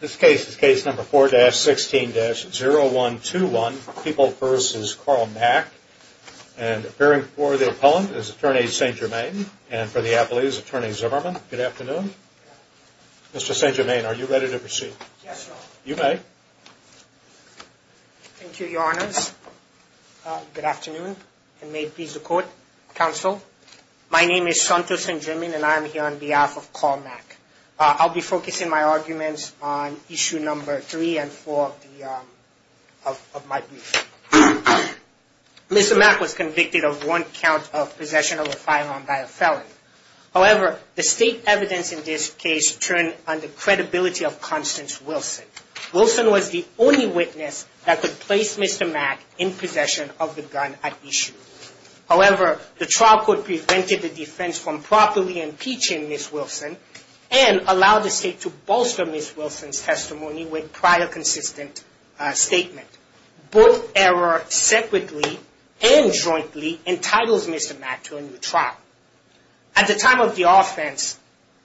This case is case number 4-16-0121 People v. Carl Mack and appearing before the appellant is attorney St. Germain and for the appellate is attorney Zimmerman. Good afternoon. Mr. St. Germain are you ready to proceed? Yes sir. You may. Thank you your honors. Good afternoon and may it please the court, counsel. My name is Santo St. Germain and I am here on behalf of Carl Mack. Mr. Mack was convicted of one count of possession of a firearm by a felon. However, the state evidence in this case turned on the credibility of Constance Wilson. Wilson was the only witness that could place Mr. Mack in possession of the gun at issue. However, the trial court prevented the defense from properly impeaching Ms. Wilson and allowed the state to bolster Ms. Wilson's testimony with prior consistent statement. Both error separately and jointly entitles Mr. Mack to a new trial. At the time of the offense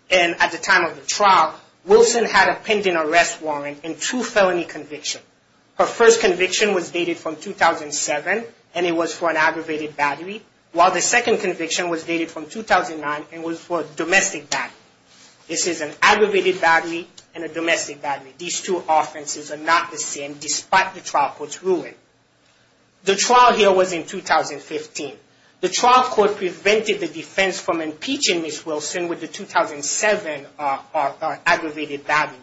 and at the time of the trial, Wilson had a pending arrest warrant and two felony convictions. Her first conviction was dated from 2007 and it was for an aggravated battery while the aggravated battery and a domestic battery. These two offenses are not the same despite the trial court's ruling. The trial here was in 2015. The trial court prevented the defense from impeaching Ms. Wilson with the 2007 aggravated battery.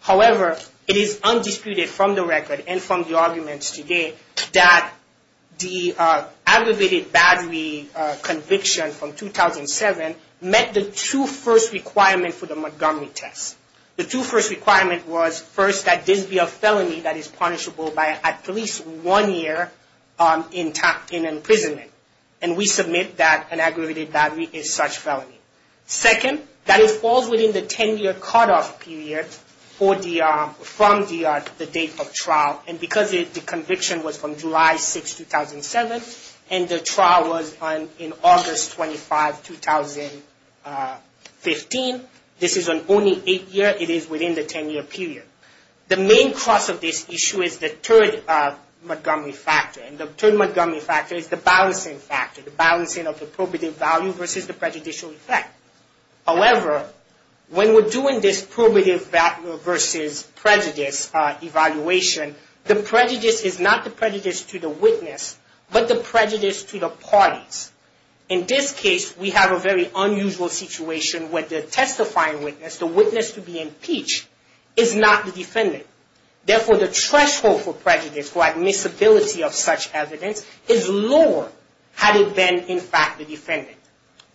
However, it is undisputed from the record and from the arguments today that the aggravated battery conviction from 2007 met the two first requirements for the Montgomery test. The two first requirements was first that this be a felony that is punishable by at least one year in imprisonment. And we submit that an aggravated battery is such felony. Second, that it falls within the ten year cutoff period from the date of trial. And because the conviction was from July 6, 2007 and the trial was in August 25, 2015, this is an only eight year. It is within the ten year period. The main cost of this issue is the third Montgomery factor. And the third Montgomery factor is the balancing factor. The balancing of the probative value versus the prejudicial effect. However, when we're doing this probative versus prejudice evaluation, the prejudice is not the prejudice to the witness, but the prejudice to the parties. In this case, we have a very unusual situation where the testifying witness, the witness to be impeached, is not the defendant. Therefore, the threshold for prejudice or admissibility of such evidence is lower had it been in fact the defendant.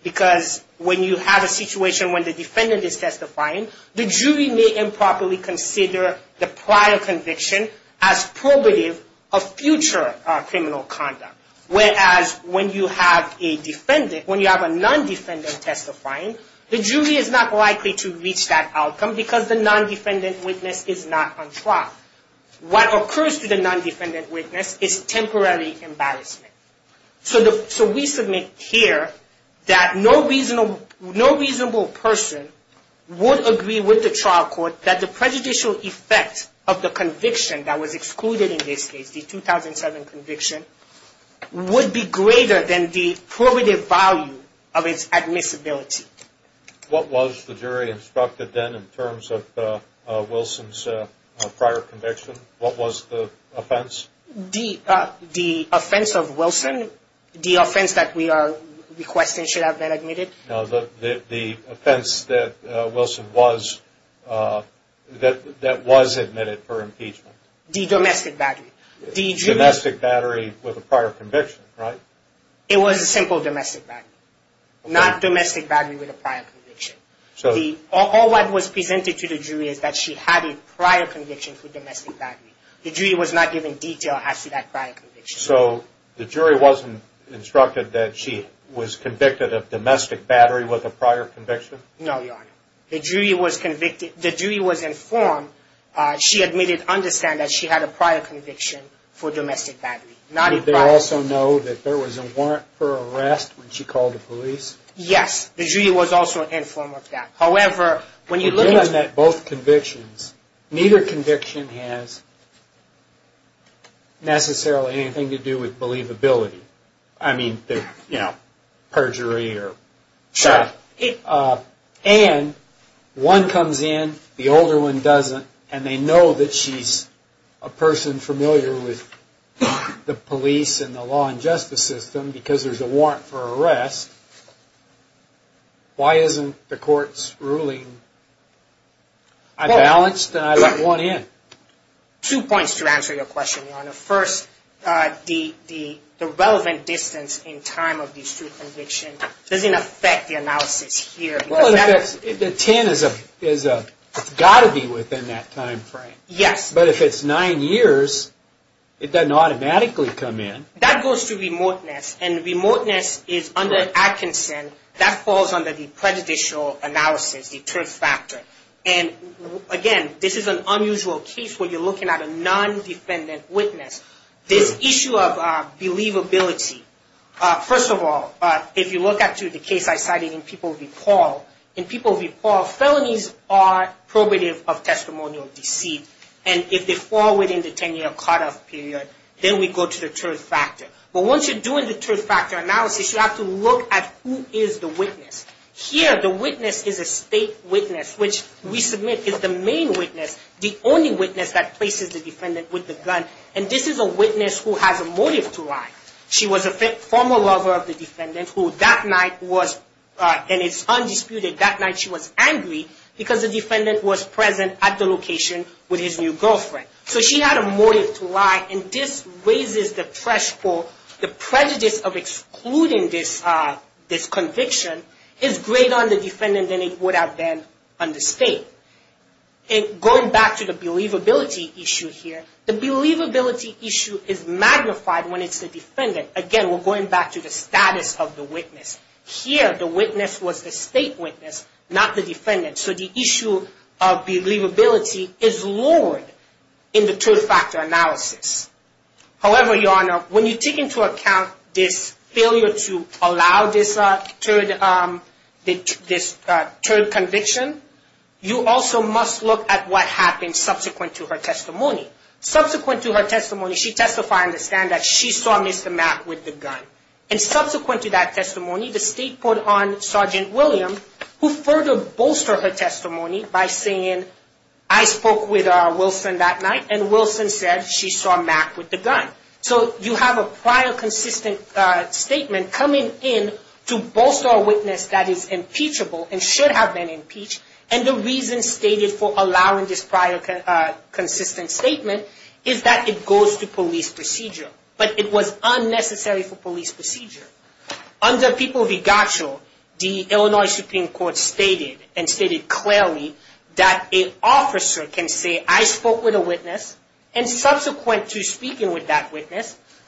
Because when you have a situation when the defendant is testifying, the jury may improperly consider the prior conviction as probative of future criminal conduct. Whereas, when you have a non-defendant testifying, the jury is not likely to reach that outcome because the non-defendant witness is not on trial. What occurs to the non-defendant witness is temporary embarrassment. So we submit here that no reasonable person would agree with the trial court that the prejudicial effect of the conviction that was excluded in this case, the 2007 conviction, would be greater than the probative value of its admissibility. What was the jury instructed then in terms of Wilson's prior conviction? What was the offense? The offense of Wilson, the offense that we are requesting should have been admitted. No, the offense that Wilson was, that was admitted for impeachment. The domestic battery. The domestic battery with a prior conviction, right? It was a simple domestic battery. Not domestic battery with a prior conviction. All that was presented to the jury is that she had a prior conviction for domestic battery. The detail has to do with that prior conviction. So the jury wasn't instructed that she was convicted of domestic battery with a prior conviction? No, Your Honor. The jury was informed, she admitted, understand that she had a prior conviction for domestic battery. Did they also know that there was a warrant for arrest when she called the police? Yes. The jury was also informed of that. However, when you look at... Neither conviction has necessarily anything to do with believability. I mean, you know, perjury or... Sure. And one comes in, the older one doesn't, and they know that she's a person familiar with the police and the law and justice system because there's a warrant for arrest. Why isn't the court's ruling... I balanced and I let one in. Two points to answer your question, Your Honor. First, the relevant distance in time of the true conviction doesn't affect the analysis here. Well, in effect, the 10 has got to be within that time frame. Yes. But if it's nine years, it doesn't automatically come in. That goes to remoteness, and remoteness is under Atkinson. That falls under the prejudicial analysis, the truth factor. And again, this is an unusual case where you're looking at a non-defendant witness. This issue of believability, first of all, if you look at the case I cited in People v. Paul, in People v. Paul, felonies are probative of testimonial deceit, and if they fall within the 10-year cutoff period, then we go to the truth factor. But once you're in the truth factor analysis, you have to look at who is the witness. Here, the witness is a state witness, which we submit is the main witness, the only witness that places the defendant with the gun. And this is a witness who has a motive to lie. She was a former lover of the defendant who that night was, and it's undisputed, that night she was angry because the defendant was present at the location with his new girlfriend. So she had a motive to lie, and this raises the threshold. The prejudice of excluding this conviction is greater on the defendant than it would have been on the state. And going back to the believability issue here, the believability issue is magnified when it's the defendant. Again, we're going back to the status of the witness. Here, the witness was the state witness, not the defendant. So the issue of believability is lowered in the truth factor analysis. However, Your Honor, when you take into account this failure to allow this third conviction, you also must look at what happened subsequent to her testimony. Subsequent to her testimony, she testified on the stand that she saw Mr. Mack with the gun. And subsequent to that testimony, the state put on Sergeant William, who further said she saw Mack with the gun. So you have a prior consistent statement coming in to bolster a witness that is impeachable and should have been impeached. And the reason stated for allowing this prior consistent statement is that it goes to police procedure. But it was unnecessary for police procedure. Under People v. Gottschall, the Illinois Supreme Court,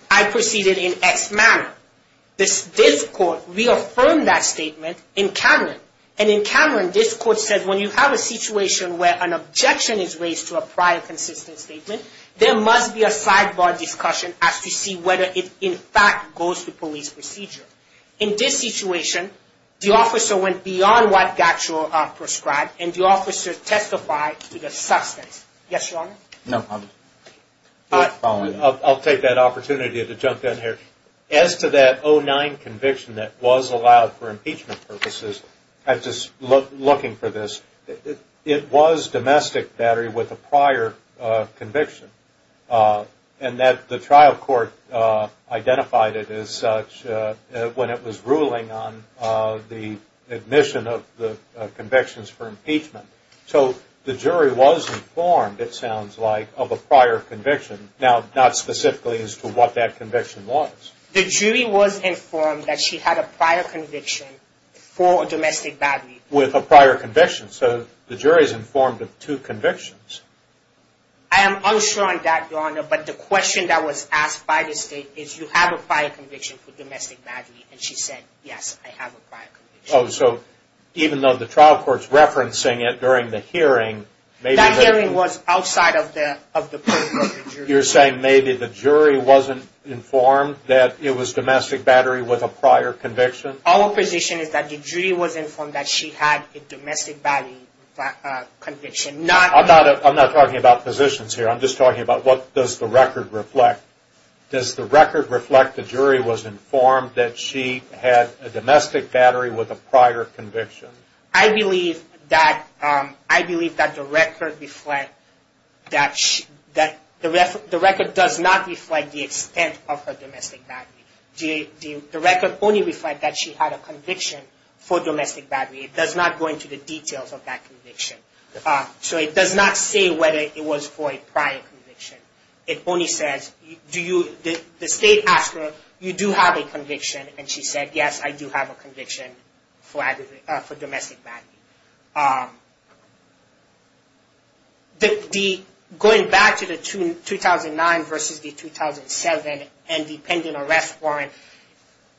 I proceeded in X manner. This court reaffirmed that statement in Cameron. And in Cameron, this court said when you have a situation where an objection is raised to a prior consistent statement, there must be a sidebar discussion as to see whether it in fact goes to police procedure. In this situation, the officer went beyond what Gottschall prescribed, and the officer testified to the substance. Yes, Your Honor? No, I'll take that opportunity to jump in here. As to that 09 conviction that was allowed for impeachment purposes, I'm just looking for this. It was domestic battery with a prior conviction. And that the trial court identified it as such when it was ruling on the admission of the convictions for impeachment. So the jury was informed, it sounds like, of a prior conviction. Now, not specifically as to what that conviction was. The jury was informed that she had a prior conviction for domestic battery. With a prior conviction. So the jury is informed of two convictions. I am unsure on that, Your Honor. But the question that was asked by the state is, you have a prior conviction for domestic battery? And she said, yes, I have a prior conviction. Oh, so even though the trial court is referencing it during the hearing, maybe the... That hearing was outside of the purview of the jury. You're saying maybe the jury wasn't informed that it was domestic battery with a prior conviction? Our position is that the jury was informed that she had a domestic battery conviction, not... I'm not talking about positions here. I'm just talking about what does the record reflect? Does the record reflect the jury was informed that she had a domestic battery with a prior conviction? I believe that the record does not reflect the extent of her domestic battery. The record only reflects that she had a conviction for domestic battery. It does not go into the details of that conviction. So it does not say whether it was for a prior conviction. It only says, the state asked her, you do have a conviction? And she said, yes, I do have a conviction for domestic battery. Going back to the 2009 versus the 2007 and the pending arrest warrant,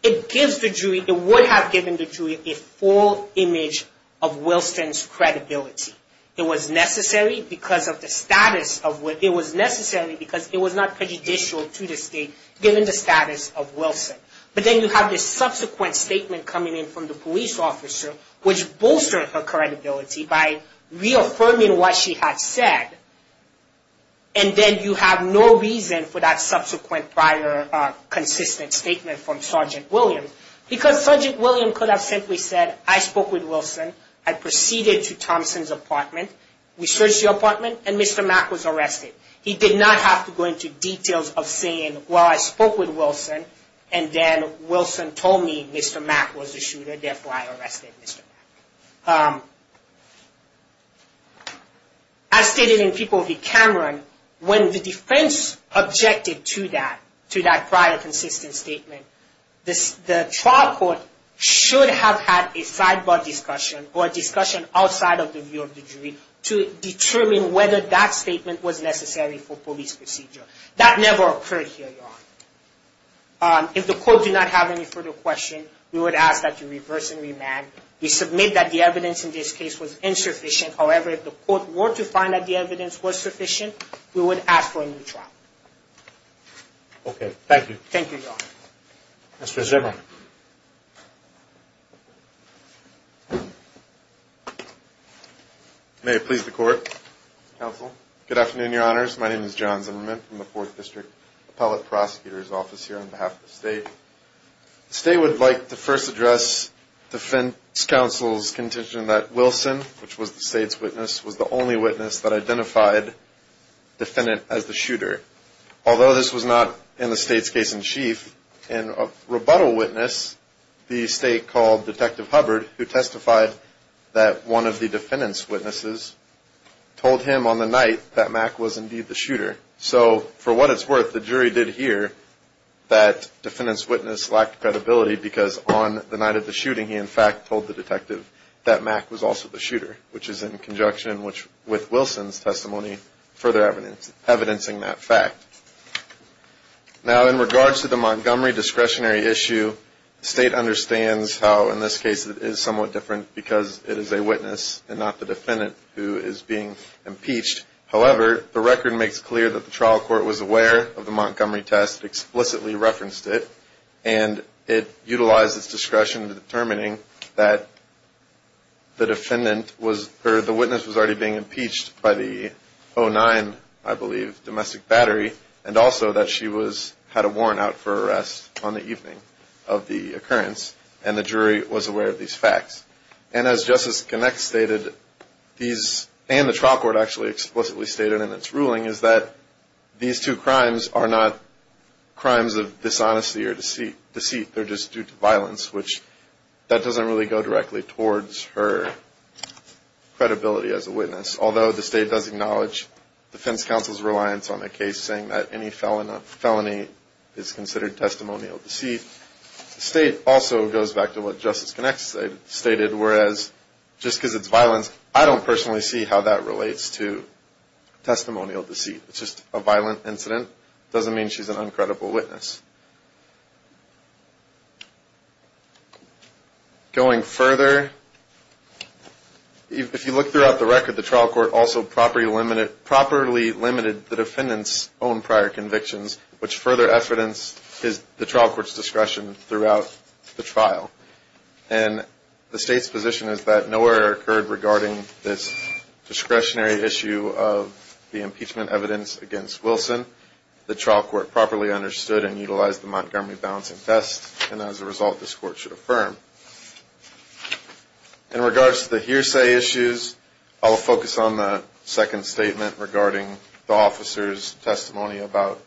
it would have given the jury a full image of Wilson's credibility. It was necessary because it was not prejudicial to the state given the status of Wilson. But then you have this subsequent statement coming in from the police officer, which bolstered her credibility by reaffirming what she had said. And then you have no reason for that subsequent prior consistent statement from Sergeant Williams. Because Sergeant Williams could have simply said, I spoke with Wilson. I proceeded to Thompson's apartment. We searched the apartment and Mr. Mack was arrested. He did not have to go into details of saying, well, I spoke with Wilson. And then Wilson told me Mr. Mack was the shooter. Therefore, I arrested Mr. Mack. As stated in People v. Cameron, when the defense objected to that prior consistent statement, the trial court should have had a sidebar discussion or a discussion outside of the view of the jury to determine whether that statement was necessary for police procedure. That never occurred here, Your Honor. If the court did not have any further questions, we would ask that you reverse and remand. We submit that the evidence in this case was insufficient. However, if the court were to find that the evidence was sufficient, we would ask for a new trial. Okay. Thank you. Thank you, Your Honor. Mr. Zimmerman. May it please the court, counsel. Good afternoon, Your Honors. My name is John Zimmerman from the Fourth District Appellate Prosecutor's Office here on behalf of the state. The state would like to first address defense counsel's contention that Wilson, which was the state's witness, was the only witness that identified the defendant as the shooter. Although this was not in the state's case in chief, in a rebuttal witness, the state called Detective Hubbard, who testified that one of the defendant's witnesses told him on the night that Mack was indeed the shooter. So, for what it's worth, the jury did hear that defendant's witness lacked credibility because on the night of the shooting, he in fact told the detective that Mack was also the shooter, which is in conjunction with Wilson's testimony further evidencing that fact. Now, in regards to the Montgomery discretionary issue, the state understands how in this case it is somewhat different because it is a witness and not the defendant who is being impeached. However, the record makes clear that the trial court was aware of the Montgomery test, explicitly referenced it, and it utilized its discretion in determining that the witness was already being impeached by the 09, I believe, domestic battery, and also that she had a warrant out for arrest on the evening of the occurrence, and the jury was aware of these facts. And as Justice Gennett stated, and the trial court actually explicitly stated in its ruling, is that these two crimes are not crimes of dishonesty or deceit. They're just due to violence, which that doesn't really go directly towards her credibility as a witness, although the state does acknowledge defense counsel's reliance on the case, saying that any felony is considered testimonial deceit. The state also goes back to what Justice Gennett stated, whereas just because it's violence, I don't personally see how that relates to testimonial deceit. It's just a violent incident. It doesn't mean she's an uncredible witness. Going further, if you look throughout the record, the trial court also properly limited the defendant's own prior convictions, which further evidenced the trial court's discretion throughout the trial. And the state's position is that no error occurred regarding this discretionary issue of the impeachment evidence against Wilson. The trial court properly understood and utilized the Montgomery Balancing Test, and as a result, this court should affirm. In regards to the hearsay issues, I'll focus on the second statement regarding the officer's testimony about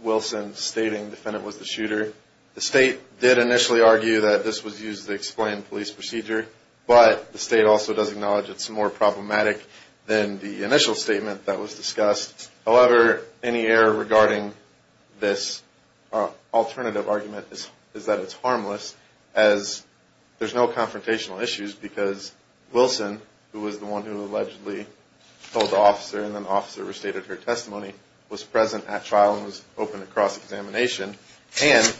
Wilson stating the defendant was the shooter. The state did initially argue that this was used to explain police procedure, but the state also does acknowledge it's more problematic than the initial statement that was discussed. However, any error regarding this alternative argument is that it's harmless as there's no confrontational issues because Wilson, who was the one who allegedly told the officer and then the officer restated her testimony, was present at trial and was open to cross-examination. And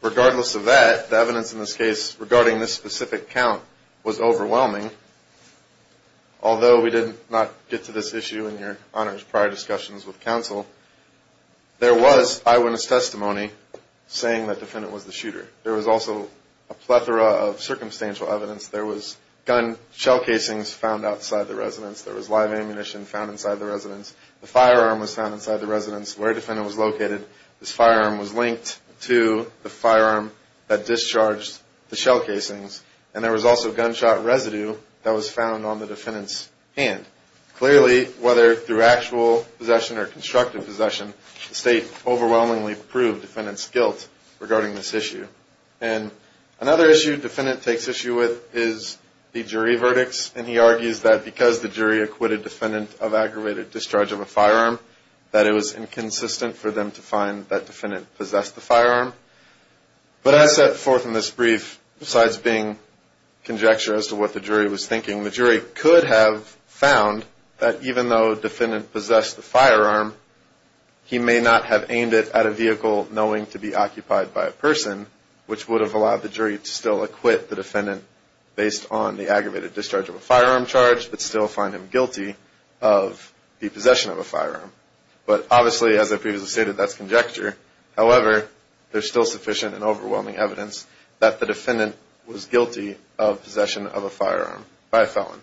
regardless of that, the evidence in this case regarding this specific count was overwhelming. Although we did not get to this issue in your honors prior discussions with counsel, there was eyewitness testimony saying that the defendant was the shooter. There was also a plethora of circumstantial evidence. There was gun shell casings found outside the residence. There was live ammunition found inside the residence. The firearm was found inside the residence. Where the defendant was located, this firearm was linked to the firearm that discharged the shell casings. And there was also gunshot residue that was found on the defendant's hand. Clearly, whether through actual possession or constructive possession, the state overwhelmingly proved the defendant's guilt regarding this issue. And another issue the defendant takes issue with is the jury verdicts. And he argues that because the jury acquitted the defendant of aggravated discharge of a firearm, that it was inconsistent for them to find that defendant possessed the firearm. But as set forth in this brief, besides being conjecture as to what the jury was thinking, the jury could have found that even though the defendant possessed the firearm, he may not have aimed it at a vehicle knowing to be occupied by a person, which would have allowed the jury to still acquit the defendant based on the aggravated discharge of a firearm charge, but still find him guilty of the possession of a firearm. But obviously, as I previously stated, that's conjecture. However, there's still sufficient and overwhelming evidence that the defendant was guilty of possession of a firearm by a felon.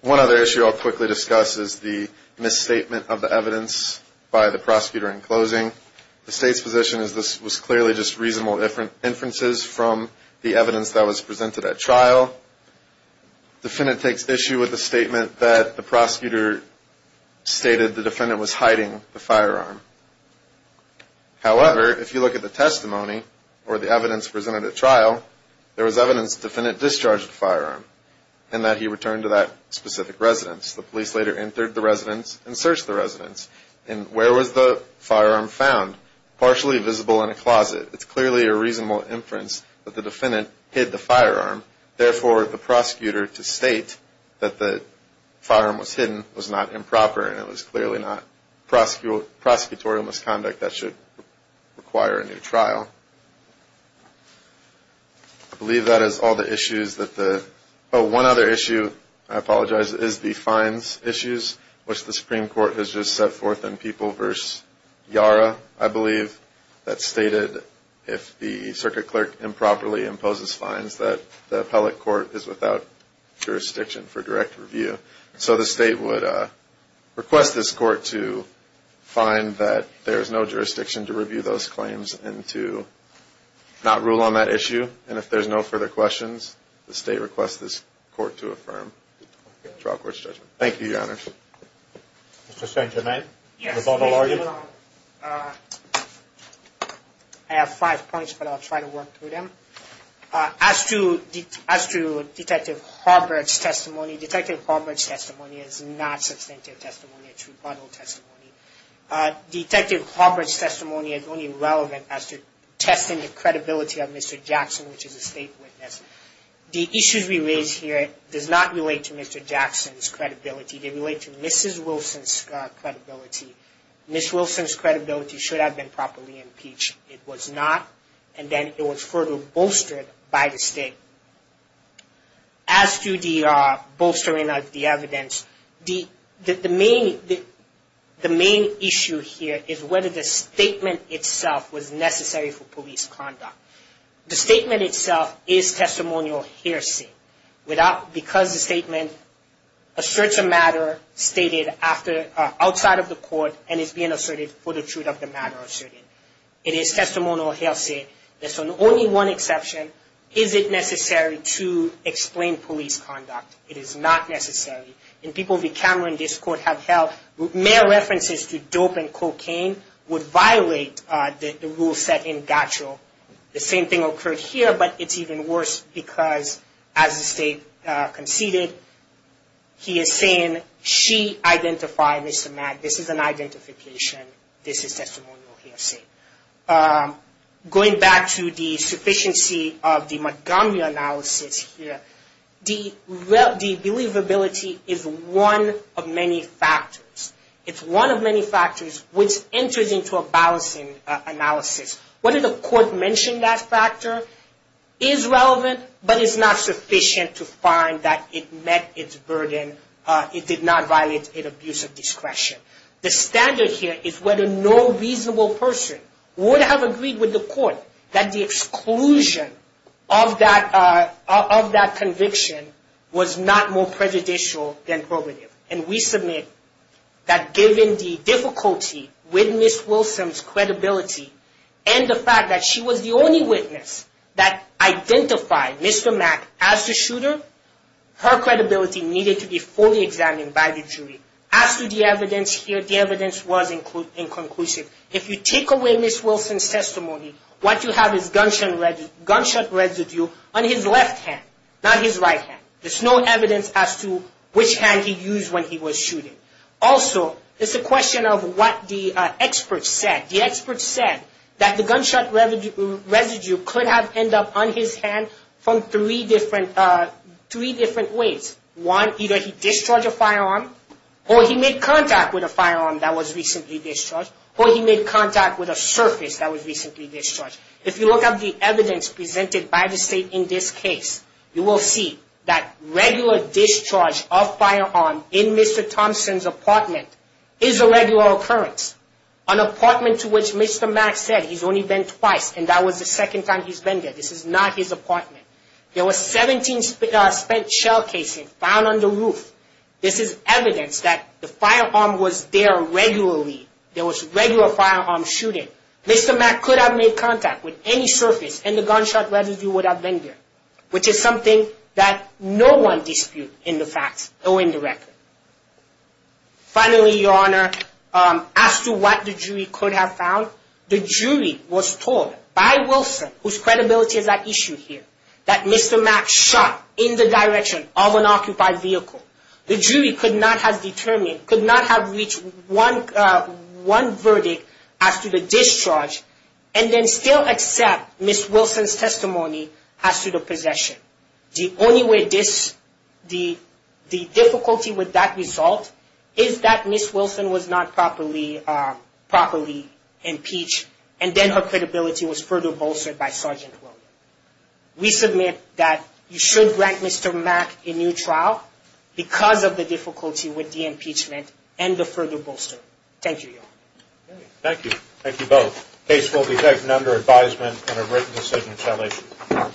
One other issue I'll quickly discuss is the misstatement of the evidence by the prosecutor in closing. The state's position is this was clearly just reasonable inferences from the evidence that was presented at trial. The defendant takes issue with the statement that the prosecutor stated the defendant was hiding the firearm. However, if you look at the testimony or the evidence presented at trial, there was evidence the defendant discharged the firearm and that he returned to that specific residence. The police later entered the residence and searched the residence. And where was the firearm found? Partially visible in a closet. It's clearly a reasonable inference that the defendant hid the firearm. Therefore, the prosecutor to state that the firearm was hidden was not improper and it was clearly not prosecutorial misconduct that should require a new trial. I believe that is all the issues that the... Oh, one other issue, I apologize, is the fines issues, which the Supreme Court has just set forth in People v. Yara, I believe, that stated if the circuit clerk improperly imposes fines that the appellate court is without jurisdiction for direct review. So the state would request this court to find that there's no jurisdiction to review those claims and to not rule on that issue. And if there's no further questions, the state requests this court to affirm the trial court's judgment. Thank you, Your Honors. Mr. St. Germain? I have five points, but I'll try to work through them. As to Detective Harbert's testimony, Detective Harbert's testimony is not substantive testimony. It's rebuttal testimony. Detective Harbert's testimony is only relevant as to testing the credibility of Mr. Jackson, which is a state witness. The issues we raise here does not relate to Mr. Jackson's credibility. They relate to Mrs. Wilson's credibility. Mrs. Wilson's credibility should have been properly impeached. It was not, and then it was further bolstered by the state. As to the bolstering of the evidence, the main issue here is whether the statement itself was necessary for police conduct. The statement itself is testimonial hearsay because the statement asserts a matter stated outside of the court and is being asserted for the truth of the matter asserted. It is testimonial hearsay. There's only one exception. Is it necessary to explain police conduct? It is not necessary. In people the Cameron discord have held, mere references to dope and cocaine would violate the rules set in Gatchel. The same thing occurred here, but it's even worse because as the state conceded, he is saying she identified Mr. Mack. This is an identification. This is testimonial hearsay. Going back to the sufficiency of the Montgomery analysis here, the believability is one of many factors. It's one of many factors which enters into a balancing analysis. Whether the court mentioned that factor is relevant, but it's not sufficient to find that it met its burden. It did not violate an abuse of discretion. The standard here is whether no reasonable person would have agreed with the court that the exclusion of that conviction was not more prejudicial than probative. And we submit that given the difficulty with Ms. Wilson's credibility and the fact that she was the only witness that identified Mr. Mack as the shooter, her credibility needed to be fully examined by the jury. As to the evidence here, the evidence was inconclusive. If you take away Ms. Wilson's testimony, what you have is gunshot residue on his left hand, not his right hand. There's no evidence as to which hand he used when he was shooting. Also, it's a question of what the experts said. The experts said that the gunshot residue could have ended up on his hand from three different ways. One, either he discharged a firearm, or he made contact with a firearm that was recently discharged, or he made contact with a surface that was recently discharged. If you look at the evidence presented by the state in this case, you will see that regular discharge of firearm in Mr. Thompson's apartment is a regular occurrence. An apartment to which Mr. Mack said he's only been twice, and that was the second time he's been there. This is not his apartment. There were 17 spent shell casings found on the roof. This is evidence that the firearm was there regularly. There was regular firearm shooting. Mr. Mack could have made contact with any surface, and the gunshot residue would have been there. Which is something that no one disputes in the facts, no one directly. Finally, Your Honor, as to what the jury could have found, the jury was told by Wilson, whose credibility is at issue here, that Mr. Mack shot in the direction of an occupied vehicle. The jury could not have reached one verdict as to the discharge, and then still accept Ms. Wilson's testimony as to the possession. The only way this, the difficulty with that result, is that Ms. Wilson was not properly impeached, and then her credibility was further bolstered by Sergeant William. We submit that you should grant Mr. Mack a new trial, because of the difficulty with the impeachment and the further bolstering. Thank you, Your Honor. Thank you. Thank you both. The case will be taken under advisement and a written decision shall issue.